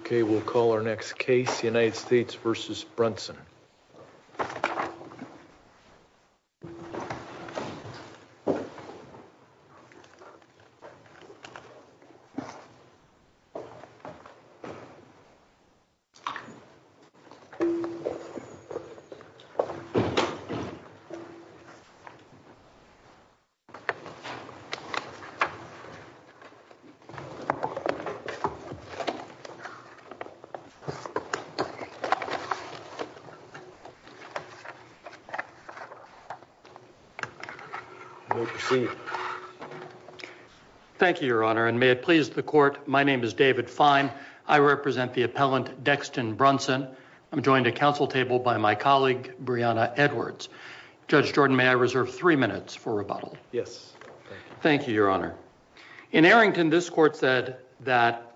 Okay, we'll call our next case, United States v. Brunson. Thank you, Your Honor, and may it please the court, my name is David Fine. I represent the appellant Dexton Brunson. I'm joined at council table by my colleague, Breonna Edwards. Judge Jordan, may I reserve three minutes for rebuttal? Yes. Thank you, Your Honor. In Arrington, this court said that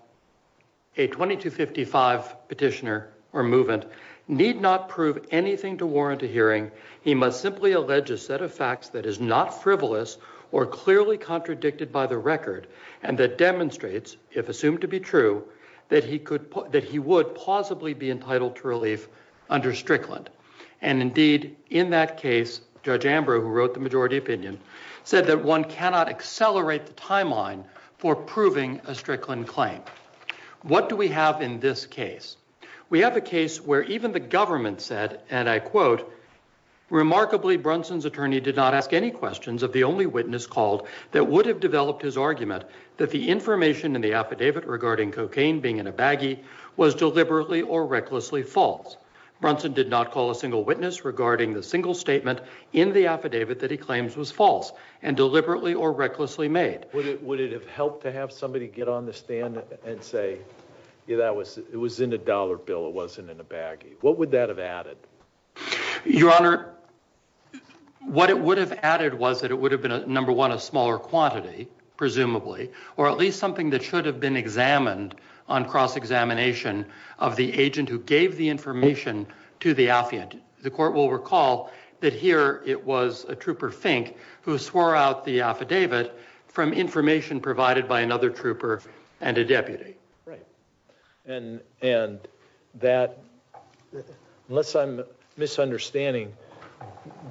a 2255 petitioner or movement need not prove anything to warrant a hearing. He must simply allege a set of facts that is not frivolous or clearly contradicted by the record and that demonstrates, if assumed to be true, that he would plausibly be entitled to relief under Strickland. And indeed, in that case, Judge Ambrose, who wrote the majority opinion, said that one cannot accelerate the timeline for proving a Strickland claim. What do we have in this case? We have a case where even the government said, and I quote, remarkably, Brunson's attorney did not ask any questions of the only witness called that would have developed his argument that the information in the affidavit regarding cocaine being in a baggie was deliberately or recklessly false. Brunson did not call a single witness regarding the single statement in the affidavit that he claims was false and deliberately or recklessly made. Would it have helped to have somebody get on the stand and say, it was in a dollar bill, it wasn't in a baggie? What would that have added? Your Honor, what it would have added was that it would have been, number one, a smaller quantity, presumably, or at least something that should have been examined on cross-examination of the agent who gave the information to the affidavit. The court will recall that here it was a trooper, Fink, who swore out the affidavit from information provided by another trooper and a deputy. Right. And that, unless I'm misunderstanding,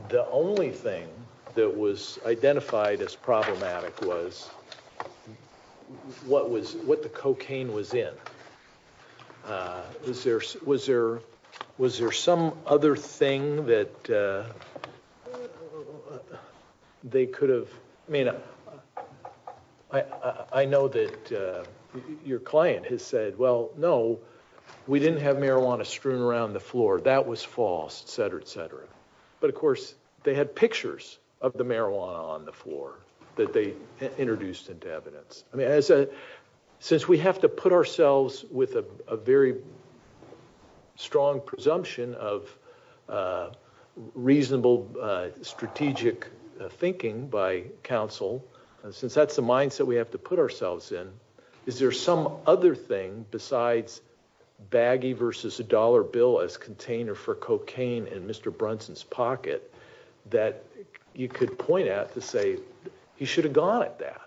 the only thing that was identified as problematic was what the cocaine was in. Was there some other thing that they could have, I mean, I know that your client has said, well, no, we didn't have marijuana strewn around the floor, that was false, et cetera, et cetera. But of course, they had pictures of the marijuana on the floor that they introduced into evidence. I mean, since we have to put ourselves with a very strong presumption of reasonable strategic thinking by counsel, since that's the mindset we have to put ourselves in, is there some other thing besides baggie versus a dollar bill as container for cocaine in Mr. Brunson's pocket that you could point at to say he should have gone at that?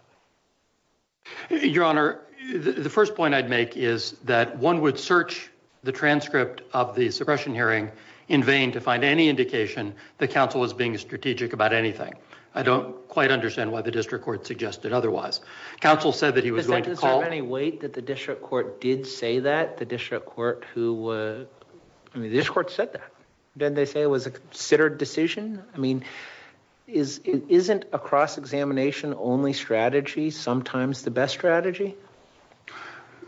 Your Honor, the first point I'd make is that one would search the transcript of the suppression hearing in vain to find any indication that counsel was being strategic about anything. I don't quite understand why the district court suggested otherwise. Counsel said that he was going to call- I mean, the district court said that. Didn't they say it was a considered decision? I mean, isn't a cross-examination only strategy sometimes the best strategy?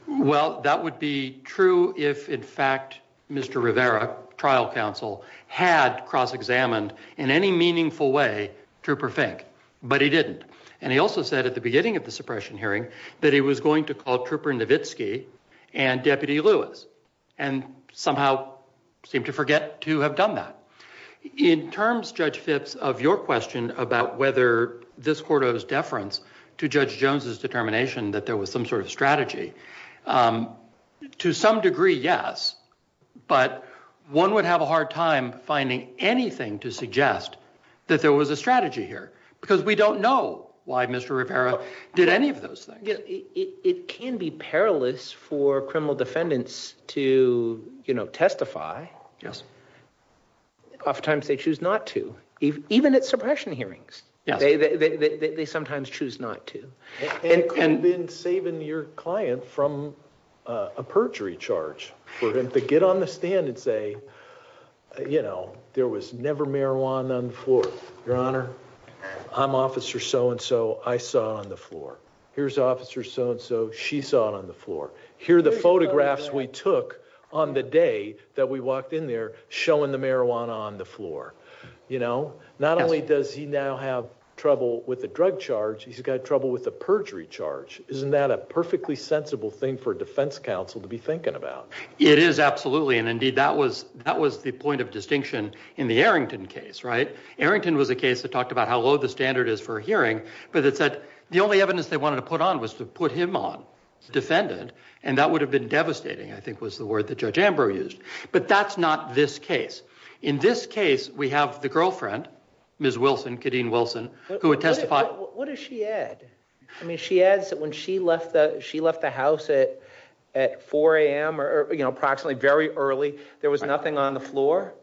Well, that would be true if, in fact, Mr. Rivera, trial counsel, had cross-examined in any meaningful way Trooper Fink. But he didn't. And he also said at the beginning of the suppression hearing that he was going to call Trooper Nowitzki and Deputy Lewis and somehow seemed to forget to have done that. In terms, Judge Phipps, of your question about whether this court owes deference to Judge Jones's determination that there was some sort of strategy, to some degree, yes. But one would have a hard time finding anything to suggest that there was a strategy here, because we don't know why Mr. Rivera did any of those things. It can be perilous for criminal defendants to, you know, testify. Oftentimes they choose not to, even at suppression hearings. They sometimes choose not to. And could have been saving your client from a perjury charge for him to get on the stand and say, you know, there was never marijuana on the floor. Your Honor, I'm Officer So-and-so. I saw it on the floor. Here's Officer So-and-so. She saw it on the floor. Here are the photographs we took on the day that we walked in there showing the marijuana on the floor. You know, not only does he now have trouble with a drug charge, he's got trouble with a perjury charge. Isn't that a perfectly sensible thing for a defense counsel to be thinking about? It is, absolutely. And indeed, that was the point of distinction in the Arrington case, right? Arrington was a case that talked about how low the standard is for a hearing, but it said the only evidence they wanted to put on was to put him on, the defendant, and that would have been devastating, I think was the word that Judge Ambrose used. But that's not this case. In this case, we have the girlfriend, Ms. Wilson, Kadeen Wilson, who had testified. What does she add? I mean, she adds that when she left the house at 4 a.m. or, you know, approximately very early, there was nothing on the floor.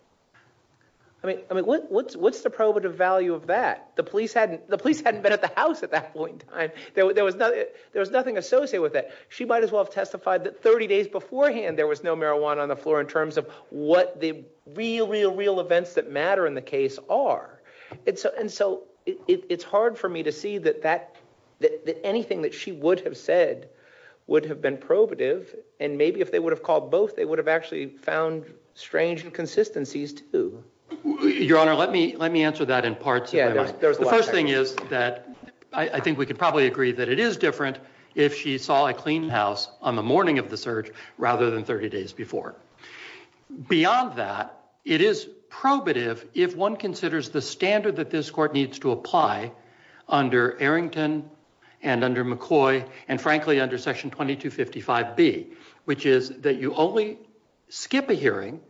I mean, what's the probative value of that? The police hadn't been at the house at that point in time. There was nothing associated with that. She might as well have testified that 30 days beforehand there was no marijuana on the floor in terms of what the real, real, real events that matter in the case are. And so it's hard for me to see that anything that she would have said would have been probative, and maybe if they would have called both, they would have actually found strange inconsistencies, too. Your Honor, let me answer that in parts. The first thing is that I think we could probably agree that it is different if she saw a clean house on the morning of the search rather than 30 days before. Beyond that, it is probative if one considers the standard that this Court needs to apply under Arrington and under McCoy and, frankly, under Section 2255B, which is that you only skip a hearing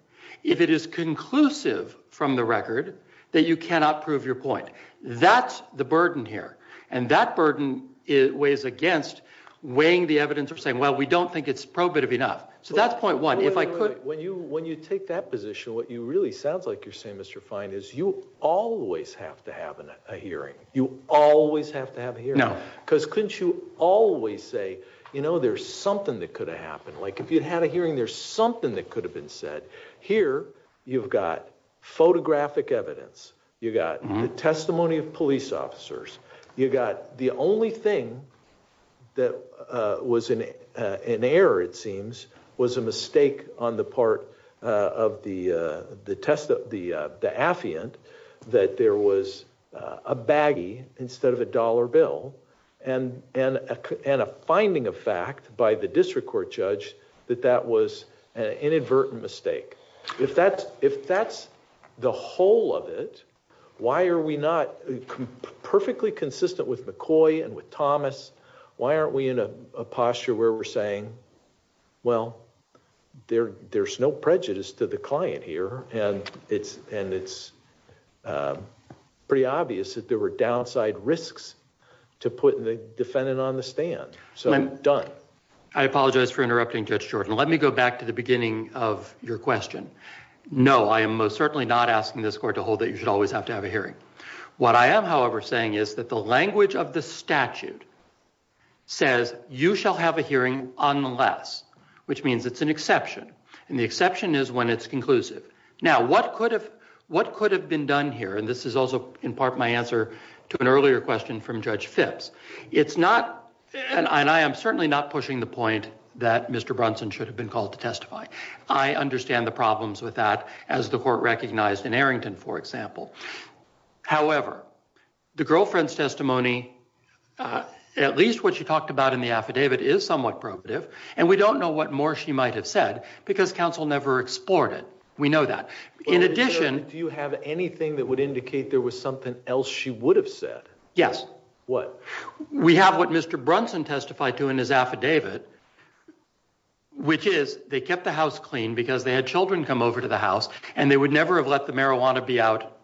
if it is conclusive from the record that you cannot prove your point. That's the burden here, and that burden weighs against weighing the evidence or saying, well, we don't think it's probative enough. So that's point one. If I could... Wait, wait, wait. When you take that position, what you really sound like you're saying, Mr. Fine, is you always have to have a hearing. You always have to have a hearing. No. Because couldn't you always say, you know, there's something that could have happened? Like, if you'd had a hearing, there's something that could have been said. Here, you've got photographic evidence. You got the testimony of police officers. You got the only thing that was in error, it seems, was a mistake on the part of the affiant that there was a baggie instead of a dollar bill and a finding of fact by the district court judge that that was an inadvertent mistake. If that's the whole of it, why are we not perfectly consistent with McCoy and with Thomas? Why aren't we in a posture where we're saying, well, there's no prejudice to the client here, and it's pretty obvious that there were downside risks to putting the defendant on the stand. So, done. I apologize for interrupting, Judge Jordan. Let me go back to the beginning of your question. No, I am most certainly not asking this court to hold that you should always have to have a hearing. What I am, however, saying is that the language of the statute says you shall have a hearing unless, which means it's an exception, and the exception is when it's conclusive. Now, what could have been done here, and this is also in part my answer to an earlier question from Judge Phipps, it's not, and I am certainly not pushing the point that Mr. Brunson should have been called to testify. I understand the problems with that, as the court recognized in Arrington, for example. However, the girlfriend's testimony, at least what she talked about in the affidavit, is somewhat probative, and we don't know what more she might have said because counsel never explored it. We know that. In addition... Do you have anything that would indicate there was something else she would have said? Yes. What? We have what Mr. Brunson testified to in his affidavit, which is they kept the house clean because they had children come over to the house, and they would never have let the marijuana be out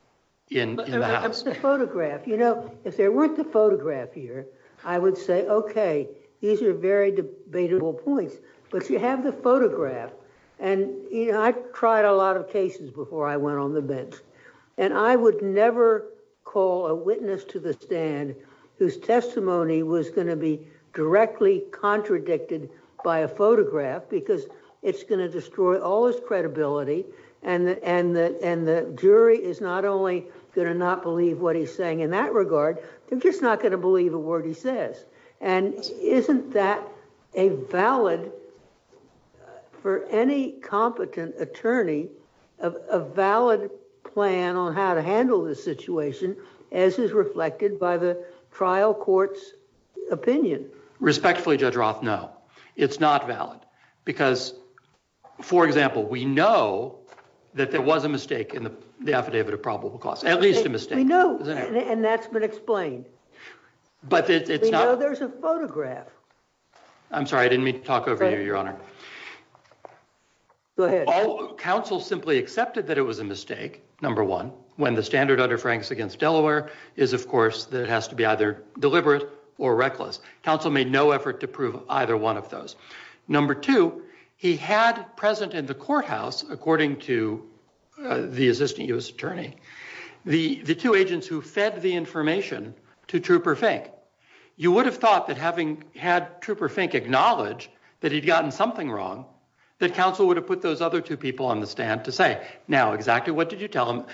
in the house. But the photograph, you know, if there weren't the photograph here, I would say, okay, these are very debatable points, but you have the photograph, and you know, I've tried a lot of cases before I went on the bench, and I would never call a witness to the stand whose testimony was going to be directly contradicted by a photograph because it's going to destroy all credibility, and the jury is not only going to not believe what he's saying in that regard, they're just not going to believe a word he says. And isn't that a valid, for any competent attorney, a valid plan on how to handle this situation as is reflected by the trial court's opinion? Respectfully, Judge Roth, no. It's not valid. Because, for example, we know that there was a mistake in the affidavit of probable cause, at least a mistake. We know, and that's been explained. But it's not— We know there's a photograph. I'm sorry, I didn't mean to talk over you, Your Honor. Go ahead. Counsel simply accepted that it was a mistake, number one, when the standard under Franks is, of course, that it has to be either deliberate or reckless. Counsel made no effort to prove either one of those. Number two, he had present in the courthouse, according to the assistant U.S. attorney, the two agents who fed the information to Trooper Fink. You would have thought that having had Trooper Fink acknowledge that he'd gotten something wrong, that counsel would have put those other two people on the stand to say, now, exactly what did you tell him?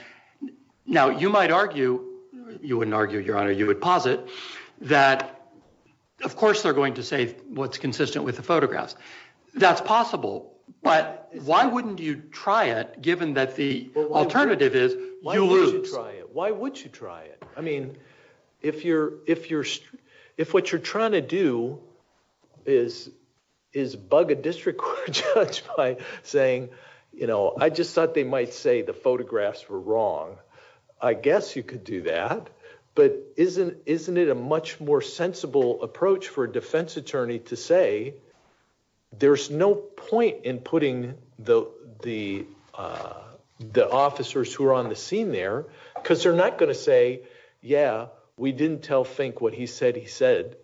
Now, you might argue—you wouldn't argue, Your Honor, you would posit—that, of course, they're going to say what's consistent with the photographs. That's possible, but why wouldn't you try it, given that the alternative is you lose? Why would you try it? Why would you try it? I mean, if what you're trying to do is bug a district court judge by saying, you know, I just thought they might say the photographs were wrong, I guess you could do that. But isn't it a much more sensible approach for a defense attorney to say there's no point in putting the officers who are on the scene there because they're not going to say, yeah, we didn't tell Fink what he said he said,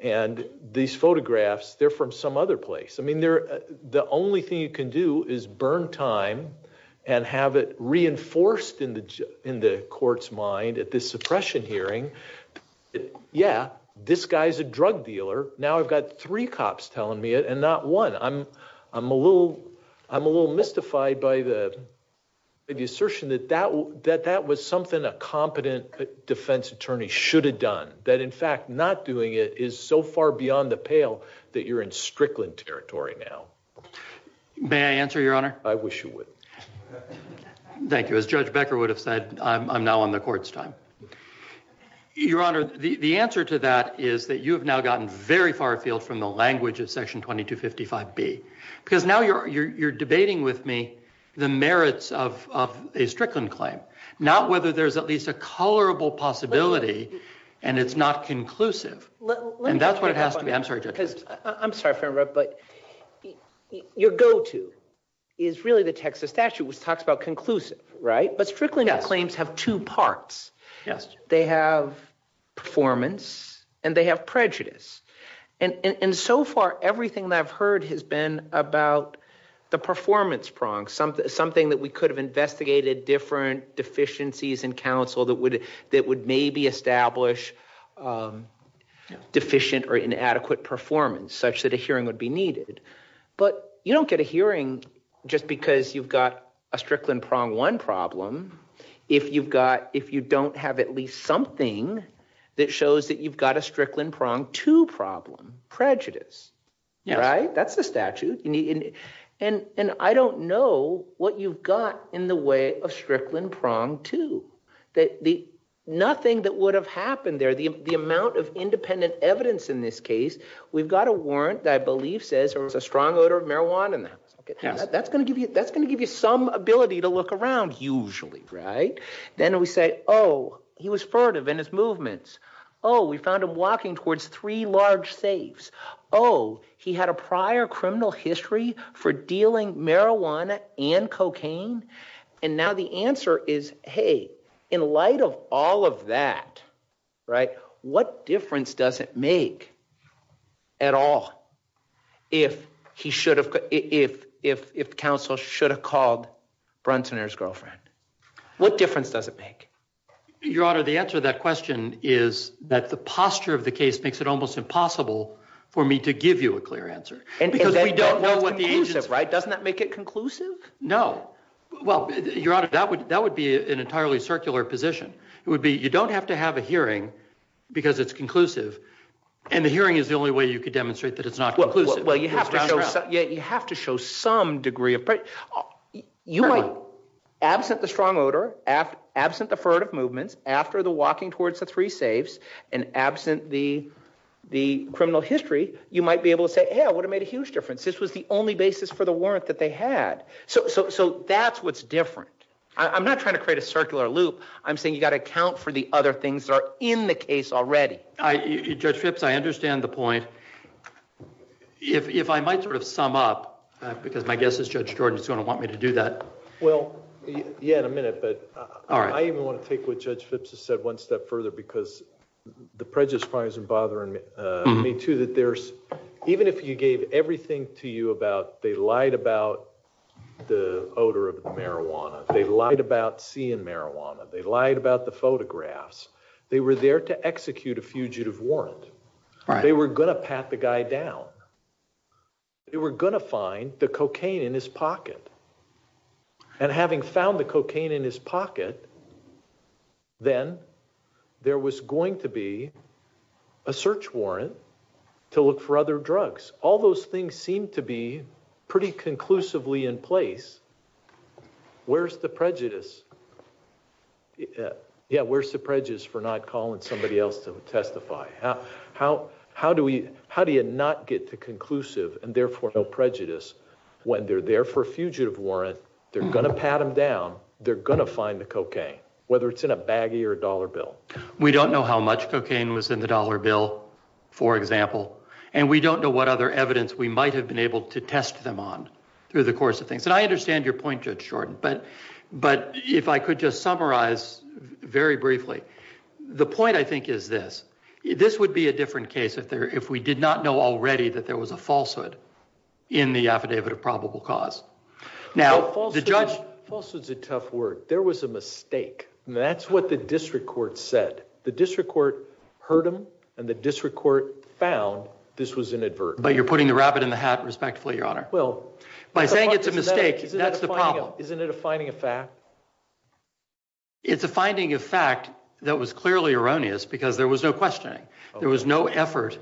and these photographs, they're from some other place. I mean, the only thing you can do is burn time and have it reinforced in the court's mind at this suppression hearing. Yeah, this guy's a drug dealer. Now I've got three cops telling me it and not one. I'm a little mystified by the assertion that that was something a competent defense attorney should have done. That, in fact, not doing it is so far beyond the pale that you're in Strickland territory now. May I answer, Your Honor? I wish you would. Thank you. As Judge Becker would have said, I'm now on the court's time. Your Honor, the answer to that is that you have now gotten very far afield from the language of because now you're debating with me the merits of a Strickland claim, not whether there's at least a colorable possibility and it's not conclusive. I'm sorry, but your go-to is really the Texas statute, which talks about conclusive, right? But Strickland claims have two parts. They have performance and they have prejudice. And so far, everything that I've heard has been about the performance prong, something that we could have investigated different deficiencies in counsel that would maybe establish deficient or inadequate performance, such that a hearing would be needed. But you don't get a hearing just because you've got a Strickland prong one problem if you don't have at least something that shows that you've got a Strickland prong two problem, prejudice, right? That's the statute. And I don't know what you've got in the way of Strickland prong two. Nothing that would have happened there, the amount of independent evidence in this case, we've got a warrant that I believe says there was a strong odor of marijuana in the house. That's going to give you some ability to look around, usually, right? Then we say, oh, he was furtive in his movements. Oh, we found him walking towards three large safes. Oh, he had a prior criminal history for dealing marijuana and cocaine. And now the answer is, hey, in light of all of that, right? What difference does it make at all if he should make? Your Honor, the answer to that question is that the posture of the case makes it almost impossible for me to give you a clear answer because we don't know what the agents, right? Doesn't that make it conclusive? No. Well, Your Honor, that would be an entirely circular position. It would be, you don't have to have a hearing because it's conclusive. And the hearing is the only way you could demonstrate that it's not conclusive. Well, you have to show some degree of clarity. Absent the strong odor, absent the furtive movements, after the walking towards the three safes, and absent the criminal history, you might be able to say, hey, I would have made a huge difference. This was the only basis for the warrant that they had. So that's what's different. I'm not trying to create a circular loop. I'm saying you've got to account for the other things that are in the case already. Judge Phipps, I understand the point. If I might sort of sum up, because my guess is Judge Jordan is going to want me to do that. Well, yeah, in a minute. But I even want to take what Judge Phipps has said one step further, because the prejudice probably isn't bothering me too, that there's, even if you gave everything to you about they lied about the odor of the marijuana, they lied about seeing marijuana, they lied about the photographs, they were there to execute a fugitive warrant. They were going to pat the guy down. They were going to find the cocaine in his pocket. And having found the cocaine in his pocket, then there was going to be a search warrant to look for other drugs. All those things seem to be pretty conclusively in place. Where's the prejudice? Yeah, where's the prejudice for not calling somebody else to testify? How do we, how do you not get to conclusive and therefore no prejudice when they're there for a fugitive warrant? They're going to pat him down. They're going to find the cocaine, whether it's in a baggie or a dollar bill. We don't know how much cocaine was in the dollar bill, for example, and we don't know what other evidence we might have been able to test them on through the course of things. And I understand your point, Judge Jordan, but if I could just if we did not know already that there was a falsehood in the affidavit of probable cause. Falsehood's a tough word. There was a mistake. That's what the district court said. The district court heard him and the district court found this was inadvertent. But you're putting the rabbit in the hat respectfully, Your Honor. Well, by saying it's a mistake, that's the problem. Isn't it a finding of fact? It's a finding of fact that was clearly erroneous because there was no questioning. There was no effort.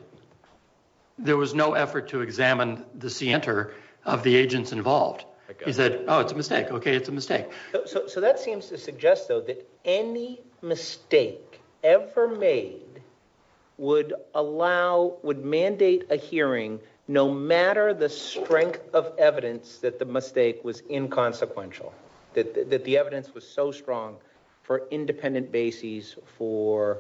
There was no effort to examine the center of the agents involved. He said, oh, it's a mistake. Okay, it's a mistake. So that seems to suggest, though, that any mistake ever made would allow, would mandate a hearing no matter the strength of evidence that the mistake was inconsequential. That the evidence was so strong for independent bases for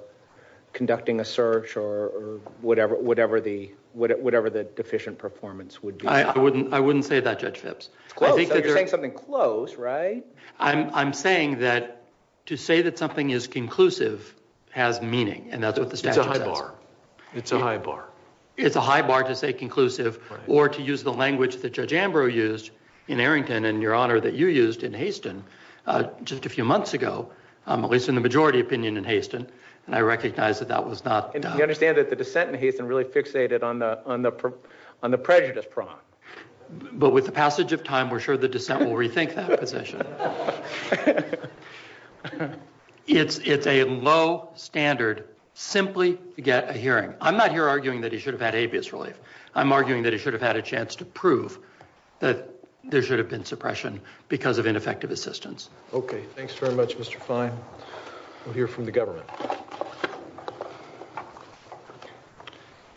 conducting a search or whatever the deficient performance would be. I wouldn't say that, Judge Phipps. It's close. So you're saying something close, right? I'm saying that to say that something is conclusive has meaning and that's what the statute says. It's a high bar. It's a high bar. To say conclusive or to use the language that Judge Ambrose used in Arrington and, Your Honor, that you used in Haston just a few months ago, at least in the majority opinion in Haston, and I recognize that that was not done. And you understand that the dissent in Haston really fixated on the prejudice prong. But with the passage of time, we're sure the dissent will rethink that position. It's a low standard simply to get a hearing. I'm not here arguing that he should have had habeas relief. I'm arguing that he should have had a chance to prove that there should have been suppression because of ineffective assistance. Okay. Thanks very much, Mr. Fine. We'll hear from the government.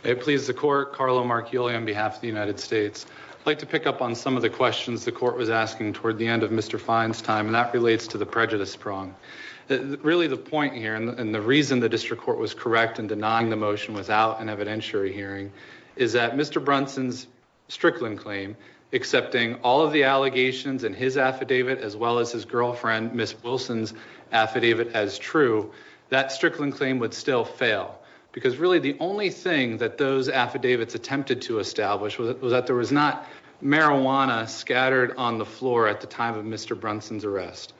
It pleases the court, Carlo Marchioli on behalf of the United States. I'd like to pick up on some of the questions the court was asking toward the end of Mr. Fine's time, and that relates to the prejudice prong. Really the point here and the reason the district court was correct in denying the motion without an evidentiary hearing is that Mr. Brunson's Strickland claim, accepting all of the allegations in his affidavit as well as his girlfriend, Ms. Wilson's affidavit as true, that Strickland claim would still fail. Because really the only thing that those affidavits attempted to establish was that there was not marijuana scattered on the floor at the time of Mr. Brunson's arrest.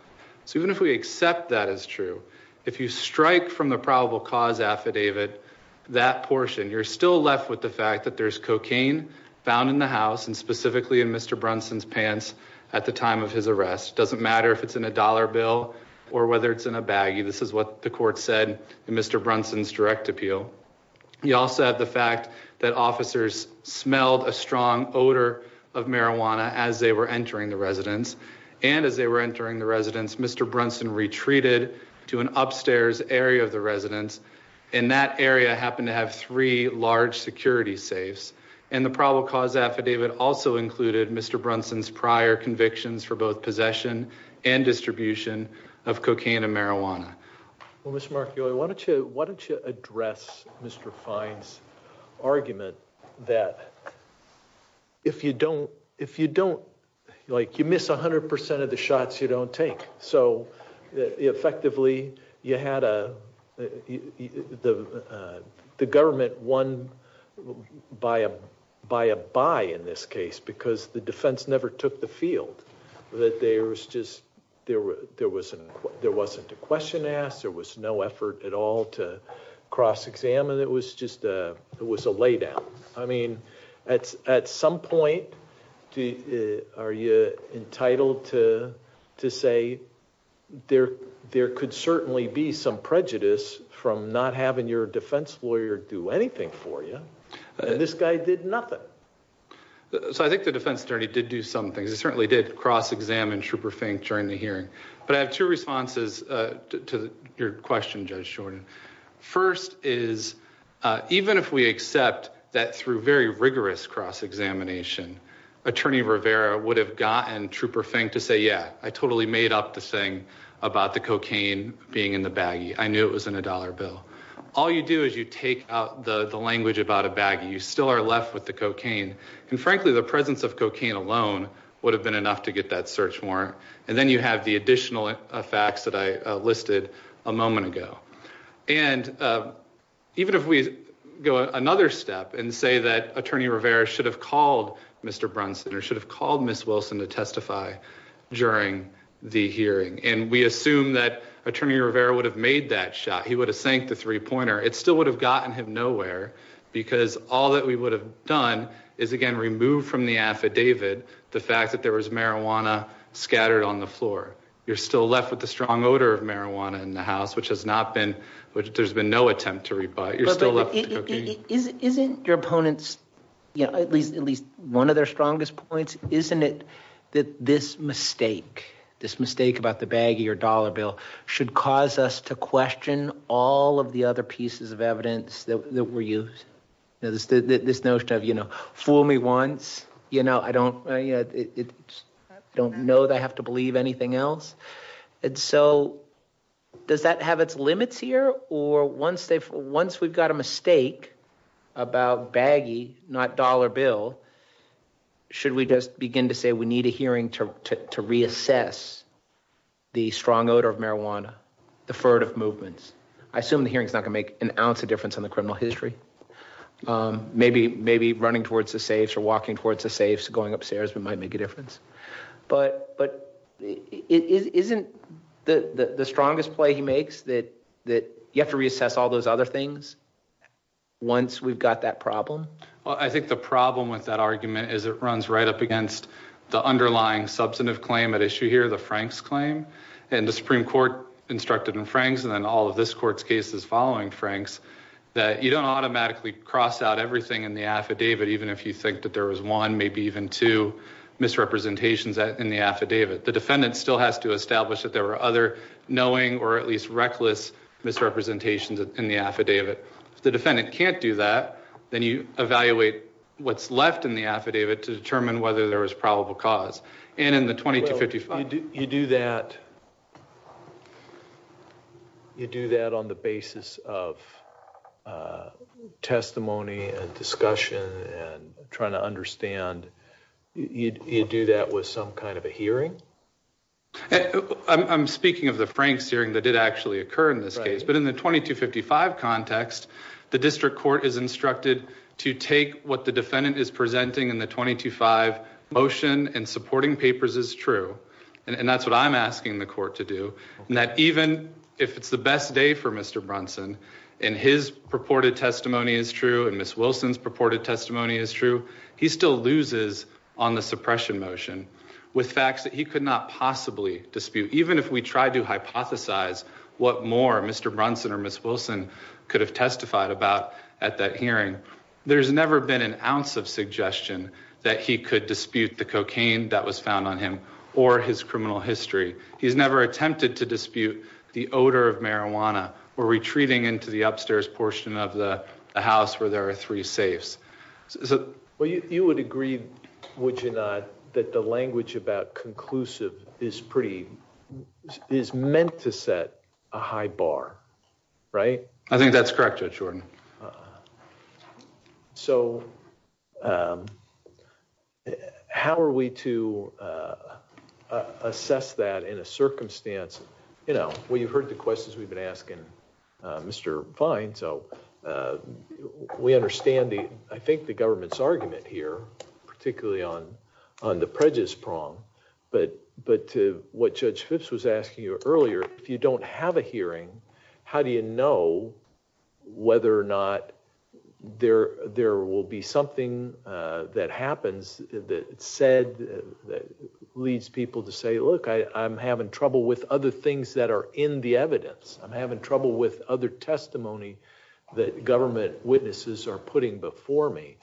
So even if we accept that as true, if you strike from the probable cause of the affidavit, that portion, you're still left with the fact that there's cocaine found in the house and specifically in Mr. Brunson's pants at the time of his arrest. Doesn't matter if it's in a dollar bill or whether it's in a baggie. This is what the court said in Mr. Brunson's direct appeal. You also have the fact that officers smelled a strong odor of marijuana as they were entering the residence. And as they were entering the residence, Mr. Brunson retreated to an upstairs area of the residence. And that area happened to have three large security safes. And the probable cause affidavit also included Mr. Brunson's prior convictions for both possession and distribution of cocaine and marijuana. Well, Mr. Markioli, why don't you, why don't you address Mr. Fine's argument that if you don't, if you don't, like you miss 100 percent of the shots you don't take. So effectively you had a, the government won by a, by a buy in this case because the defense never took the field. That there was just, there was, there wasn't a question asked, there was no effort at all to cross-examine. It was just a, it was a lay down. I mean, at, at some point do, are you entitled to, to say there, there could certainly be some prejudice from not having your defense lawyer do anything for you. And this guy did nothing. So I think the defense attorney did do some things. He certainly did cross-examine Trooper Fink during the hearing. But I have two responses to your question, Judge Jordan. First is, even if we accept that through very rigorous cross-examination, Attorney Rivera would have gotten Trooper Fink to say, yeah, I totally made up the thing about the cocaine being in the baggie. I knew it was in a dollar bill. All you do is you take out the, the language about a baggie. You still are left with the cocaine. And frankly, the presence of cocaine alone would have been enough to get that search warrant. And then you have the additional facts that I listed a moment ago. And even if we go another step and say that Attorney Rivera should have called Mr. Brunson or should have called Ms. Wilson to testify during the hearing. And we assume that Attorney Rivera would have made that shot. He would have sank the three-pointer. It still would have gotten him nowhere because all that we would have done is again, remove from the affidavit, the fact that there was marijuana scattered on the floor. You're still left with the strong odor of marijuana in the house, which has not been, which there's been no attempt to rebuy. You're still left with cocaine. Isn't your opponents, you know, at least, at least one of their strongest points, isn't it that this mistake, this mistake about the baggie or dollar bill should cause us to question all of the other pieces of evidence that were used? You know, this, this notion of, you know, fool me once, you know, I don't, you know, I don't know that I have to believe anything else. And so does that have its limits here? Or once they've, once we've got a mistake about baggie, not dollar bill, should we just begin to say we need a hearing to reassess the strong odor of marijuana, the furred of movements? I assume the hearing's not going to make an ounce of difference on the criminal history. Maybe, maybe running towards the safes or walking towards the safes, going upstairs, we might make a difference. But, but isn't the strongest play he makes that, that you have to reassess all those other things once we've got that problem? Well, I think the problem with that argument is it runs right up against the underlying substantive claim at issue here, the Frank's claim and the Supreme Court instructed in Frank's and then all of this court's cases following Frank's, that you don't automatically cross out everything in the affidavit, even if you think that there was one, maybe even two misrepresentations in the affidavit. The defendant still has to establish that there were other knowing or at least reckless misrepresentations in the affidavit. If the defendant can't do that, then you evaluate what's left in the affidavit to determine whether there was probable cause. And in the 2255, you do that, you do that on the basis of testimony and discussion and trying to understand, you do that with some kind of a hearing. I'm speaking of the Frank's hearing that did actually occur in this case, but in the 2255 context, the district court is instructed to take what the defendant is presenting in the 225 motion and supporting papers is true. And that's what I'm asking the court to do. And that even if it's the best day for Mr. Brunson and his purported testimony is true and Ms. Wilson's purported testimony is true, he still loses on the suppression motion with facts that he could not possibly dispute. Even if we tried to hypothesize what more Mr. Brunson or Ms. Wilson could have testified about at that hearing, there's never been an ounce of suggestion that he could dispute the cocaine that was found on him or his criminal history. He's never attempted to dispute the odor of marijuana or retreating into the upstairs portion of the house where there are three safes. Well, you would agree, would you not, that the language about conclusive is pretty, is meant to set a high bar, right? I think that's correct, Judge Jordan. So how are we to assess that in a circumstance, you know, well, you've heard the questions we've been asking Mr. Fine. So we understand the, I think the government's argument here, particularly on the prejudice prong, but to what Judge Phipps was asking you earlier, if you don't have a there, there will be something that happens that said that leads people to say, look, I'm having trouble with other things that are in the evidence. I'm having trouble with other testimony that government witnesses are putting before me.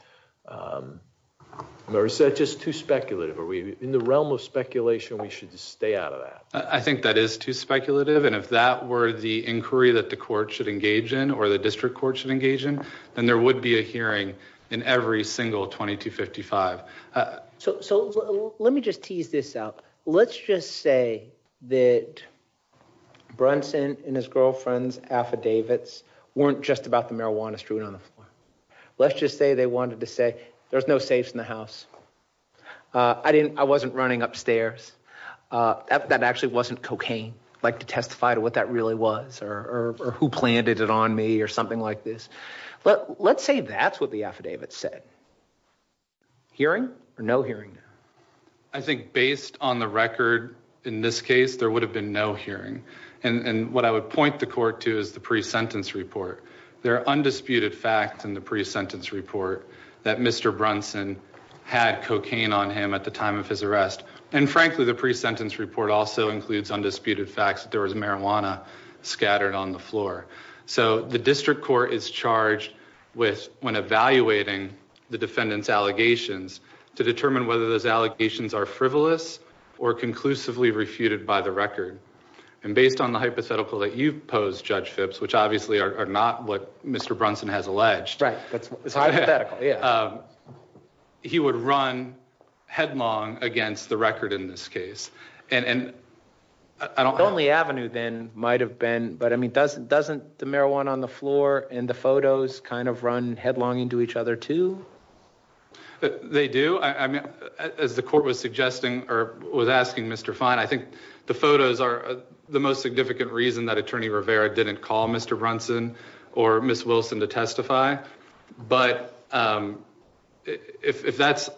Or is that just too speculative? Are we in the realm of speculation? We should just stay out of that. I think that is too speculative. And if that were the inquiry that the court should engage in, or the district court should engage in, then there would be a hearing in every single 2255. So let me just tease this out. Let's just say that Brunson and his girlfriend's affidavits weren't just about the marijuana strewn on the floor. Let's just say they wanted to say there's no safes in the house. I didn't, I wasn't running upstairs. That actually wasn't cocaine, like to testify to what that really was or who planted it on me or something like this. But let's say that's what the affidavit said. Hearing or no hearing? I think based on the record in this case, there would have been no hearing. And what I would point the court to is the pre-sentence report. There are undisputed facts in the pre-sentence report that Mr. Brunson had cocaine on him at the time of his arrest. And frankly, the pre-sentence report also includes undisputed facts that there was marijuana scattered on the floor. So the district court is charged with, when evaluating the defendant's allegations, to determine whether those allegations are frivolous or conclusively refuted by the record. And based on the hypothetical that you've posed, Judge Phipps, which obviously are not what Mr. Brunson has alleged, he would run headlong against the record in this case. And the only avenue then might have been, but I mean, doesn't the marijuana on the floor and the photos kind of run headlong into each other too? They do. I mean, as the court was suggesting or was asking Mr. Fine, I think the photos are the most significant reason that Attorney Rivera didn't call Mr. Brunson or Ms. Wilson to testify. But if that's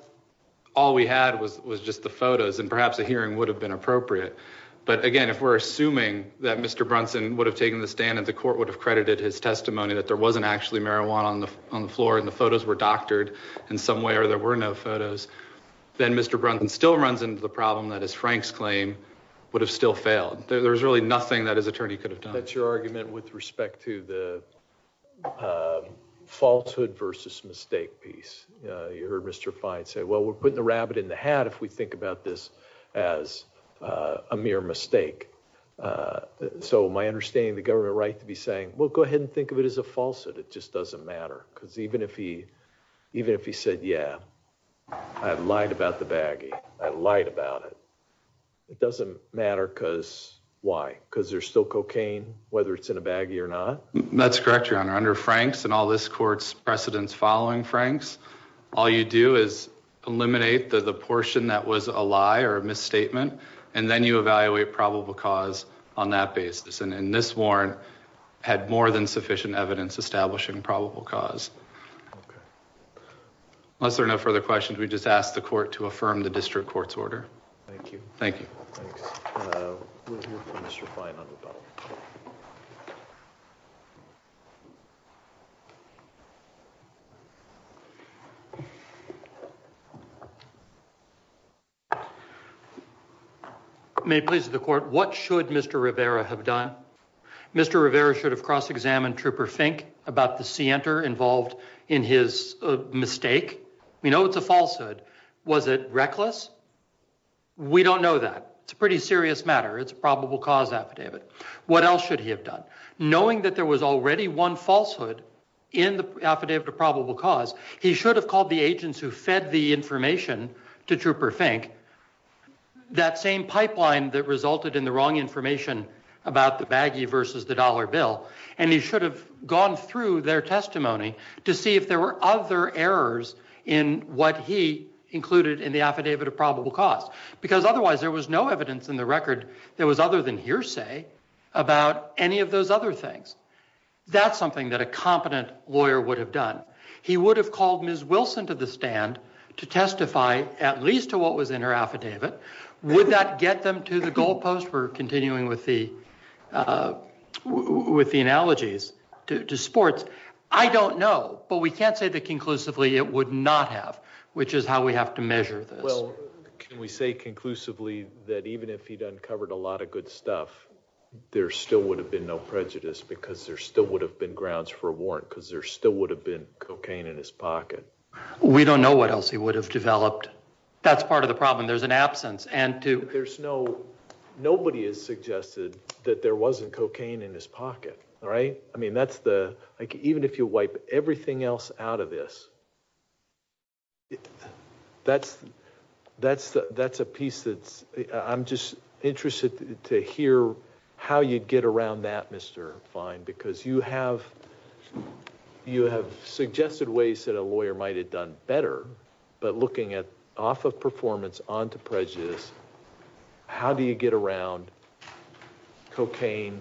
all we had was just the photos and perhaps a hearing would have been appropriate. But again, if we're assuming that Mr. Brunson would have taken the stand and the court would have credited his testimony that there wasn't actually marijuana on the floor and the photos were doctored in some way or there were no photos, then Mr. Brunson still runs into the problem that his Frank's claim would have still failed. There's really nothing that his attorney could have done. That's your argument with respect to the falsehood versus mistake piece. You heard Mr. Fine say, well, we're putting the rabbit in the hat if we think about this as a mere mistake. So my understanding, the government right to be saying, well, go ahead and think of it as a falsehood. It just doesn't matter because even if he, even if he said, yeah, I've lied about the baggy, I lied about it. It doesn't matter because why? Because there's still cocaine, whether it's in a baggy or not. That's correct, Your Honor. Under Frank's and all this court's precedents following Frank's, all you do is eliminate the portion that was a lie or a misstatement and then you evaluate probable cause on that basis. And this warrant had more than sufficient evidence establishing probable cause. Unless there are no further questions, we just ask the court to affirm the district court's order. Thank you. May it please the court, what should Mr. Rivera have done? Mr. Rivera should have cross-examined Trooper Fink about the scienter involved in his mistake. We know it's a falsehood. Was it reckless? We don't know that. It's a pretty serious matter. It's a probable cause affidavit. What else should he have done? Knowing that there was already one falsehood in the affidavit of probable cause, he should have called the agents who fed the information to Trooper Fink, that same pipeline that resulted in the wrong information about the baggy versus the dollar bill. And he should have gone through their testimony to see there were other errors in what he included in the affidavit of probable cause. Because otherwise there was no evidence in the record that was other than hearsay about any of those other things. That's something that a competent lawyer would have done. He would have called Ms. Wilson to the stand to testify at least to what was in her affidavit. Would that get them to the goalpost? We're continuing with the analogies to sports. I don't know, but we can't say that conclusively it would not have, which is how we have to measure this. Well, can we say conclusively that even if he'd uncovered a lot of good stuff, there still would have been no prejudice because there still would have been grounds for a warrant because there still would have been cocaine in his pocket? We don't know what else he would have developed. That's part of the problem. There's an absence. There's no, nobody has suggested that there wasn't cocaine in his pocket, right? I mean, that's the, like, even if you wipe everything else out of this, that's, that's, that's a piece that's, I'm just interested to hear how you get around that, Mr. Fine, because you have, you have suggested ways that a lawyer might have done better, but looking at, off of performance, onto prejudice, how do you get around cocaine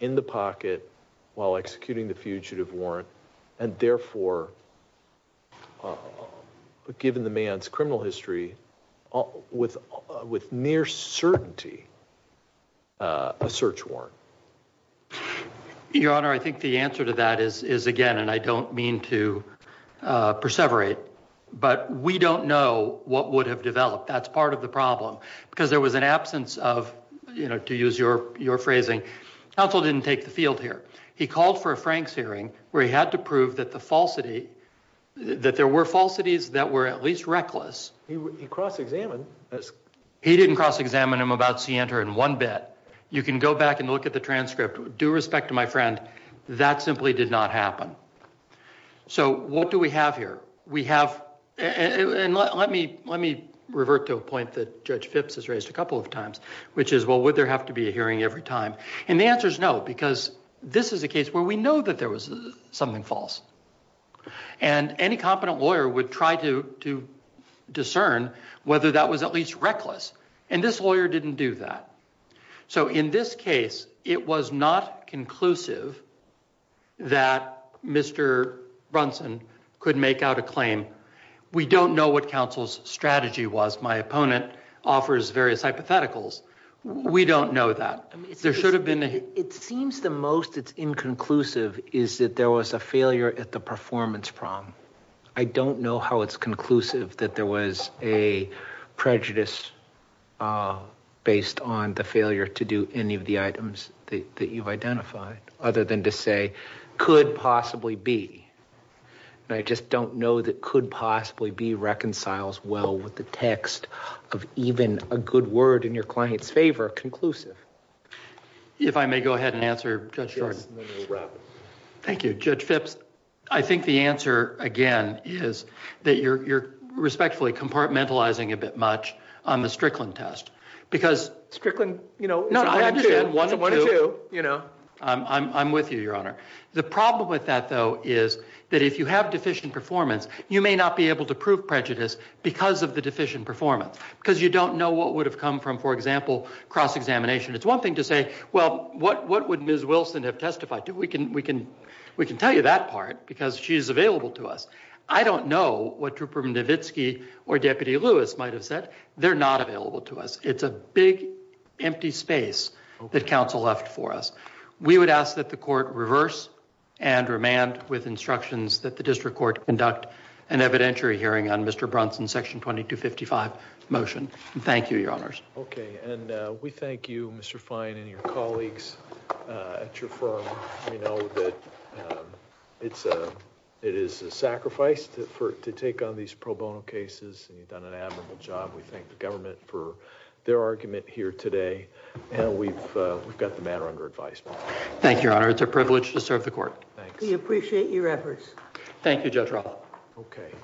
in the pocket while executing the fugitive warrant and therefore, given the man's criminal history with, with near certainty, a search warrant? Your Honor, I think the answer to that is, is again, and I don't mean to perseverate, but we don't know what would have developed. That's part of the problem because there was an absence of, you know, to use your, your phrasing. Counsel didn't take the field here. He called for a Franks hearing where he had to prove that the falsity, that there were falsities that were at least reckless. He cross-examined. He didn't cross-examine him about Sienta in one bit. You can go back and look at the transcript, due respect to my friend, that simply did not happen. So what do we have here? We have, and let me, let me revert to a point that Judge Phipps has raised a couple of times, which is, well, would there have to be a hearing every time? And the answer is no, because this is a case where we know that there was something false and any competent lawyer would try to, to discern whether that was at least reckless. And this lawyer didn't do that. So in this case, it was not conclusive that Mr. Brunson could make out a claim. We don't know what counsel's strategy was. My opponent offers various hypotheticals. We don't know that. There should have been a... It seems the most it's inconclusive is that there was a failure at the performance prong. I don't know how it's conclusive that there was a prejudice based on the failure to do any of the items that you've identified, other than to say, could possibly be. And I just don't know that could possibly be reconciles well with the text of even a good word in your client's favor, conclusive. If I may go ahead and answer, Judge Jordan. Thank you, Judge Phipps. I think the answer again is that you're respectfully compartmentalizing a bit much on the Strickland test because... Strickland, you know... No, I understand. One or two, you know. I'm with you, Your Honor. The problem with that though is that if you have deficient performance, you may not be able to prove prejudice because of the deficient performance, because you don't know what would have come from, for example, cross-examination. It's one thing to say, well, what would Ms. Wilson have testified to? We can tell you that part because she's available to us. I don't know what Trooper Mnovitsky or Deputy Lewis might have said. They're not available to us. It's a big, empty space that counsel left for us. We would ask that the court reverse and remand with instructions that the district court conduct an evidentiary hearing on Mr. Brunson's Section 2255 motion. Thank you, Your Honors. Okay, and we thank you, Mr. Fine, and your colleagues at your firm. We know that it is a sacrifice to take on these pro bono cases, and you've done an admirable job. We thank the government for their argument here today, and we've got the matter under advisement. Thank you, Your Honor. It's a privilege to serve the court. Thanks. We appreciate your efforts. Thank you, Judge Roth. Okay.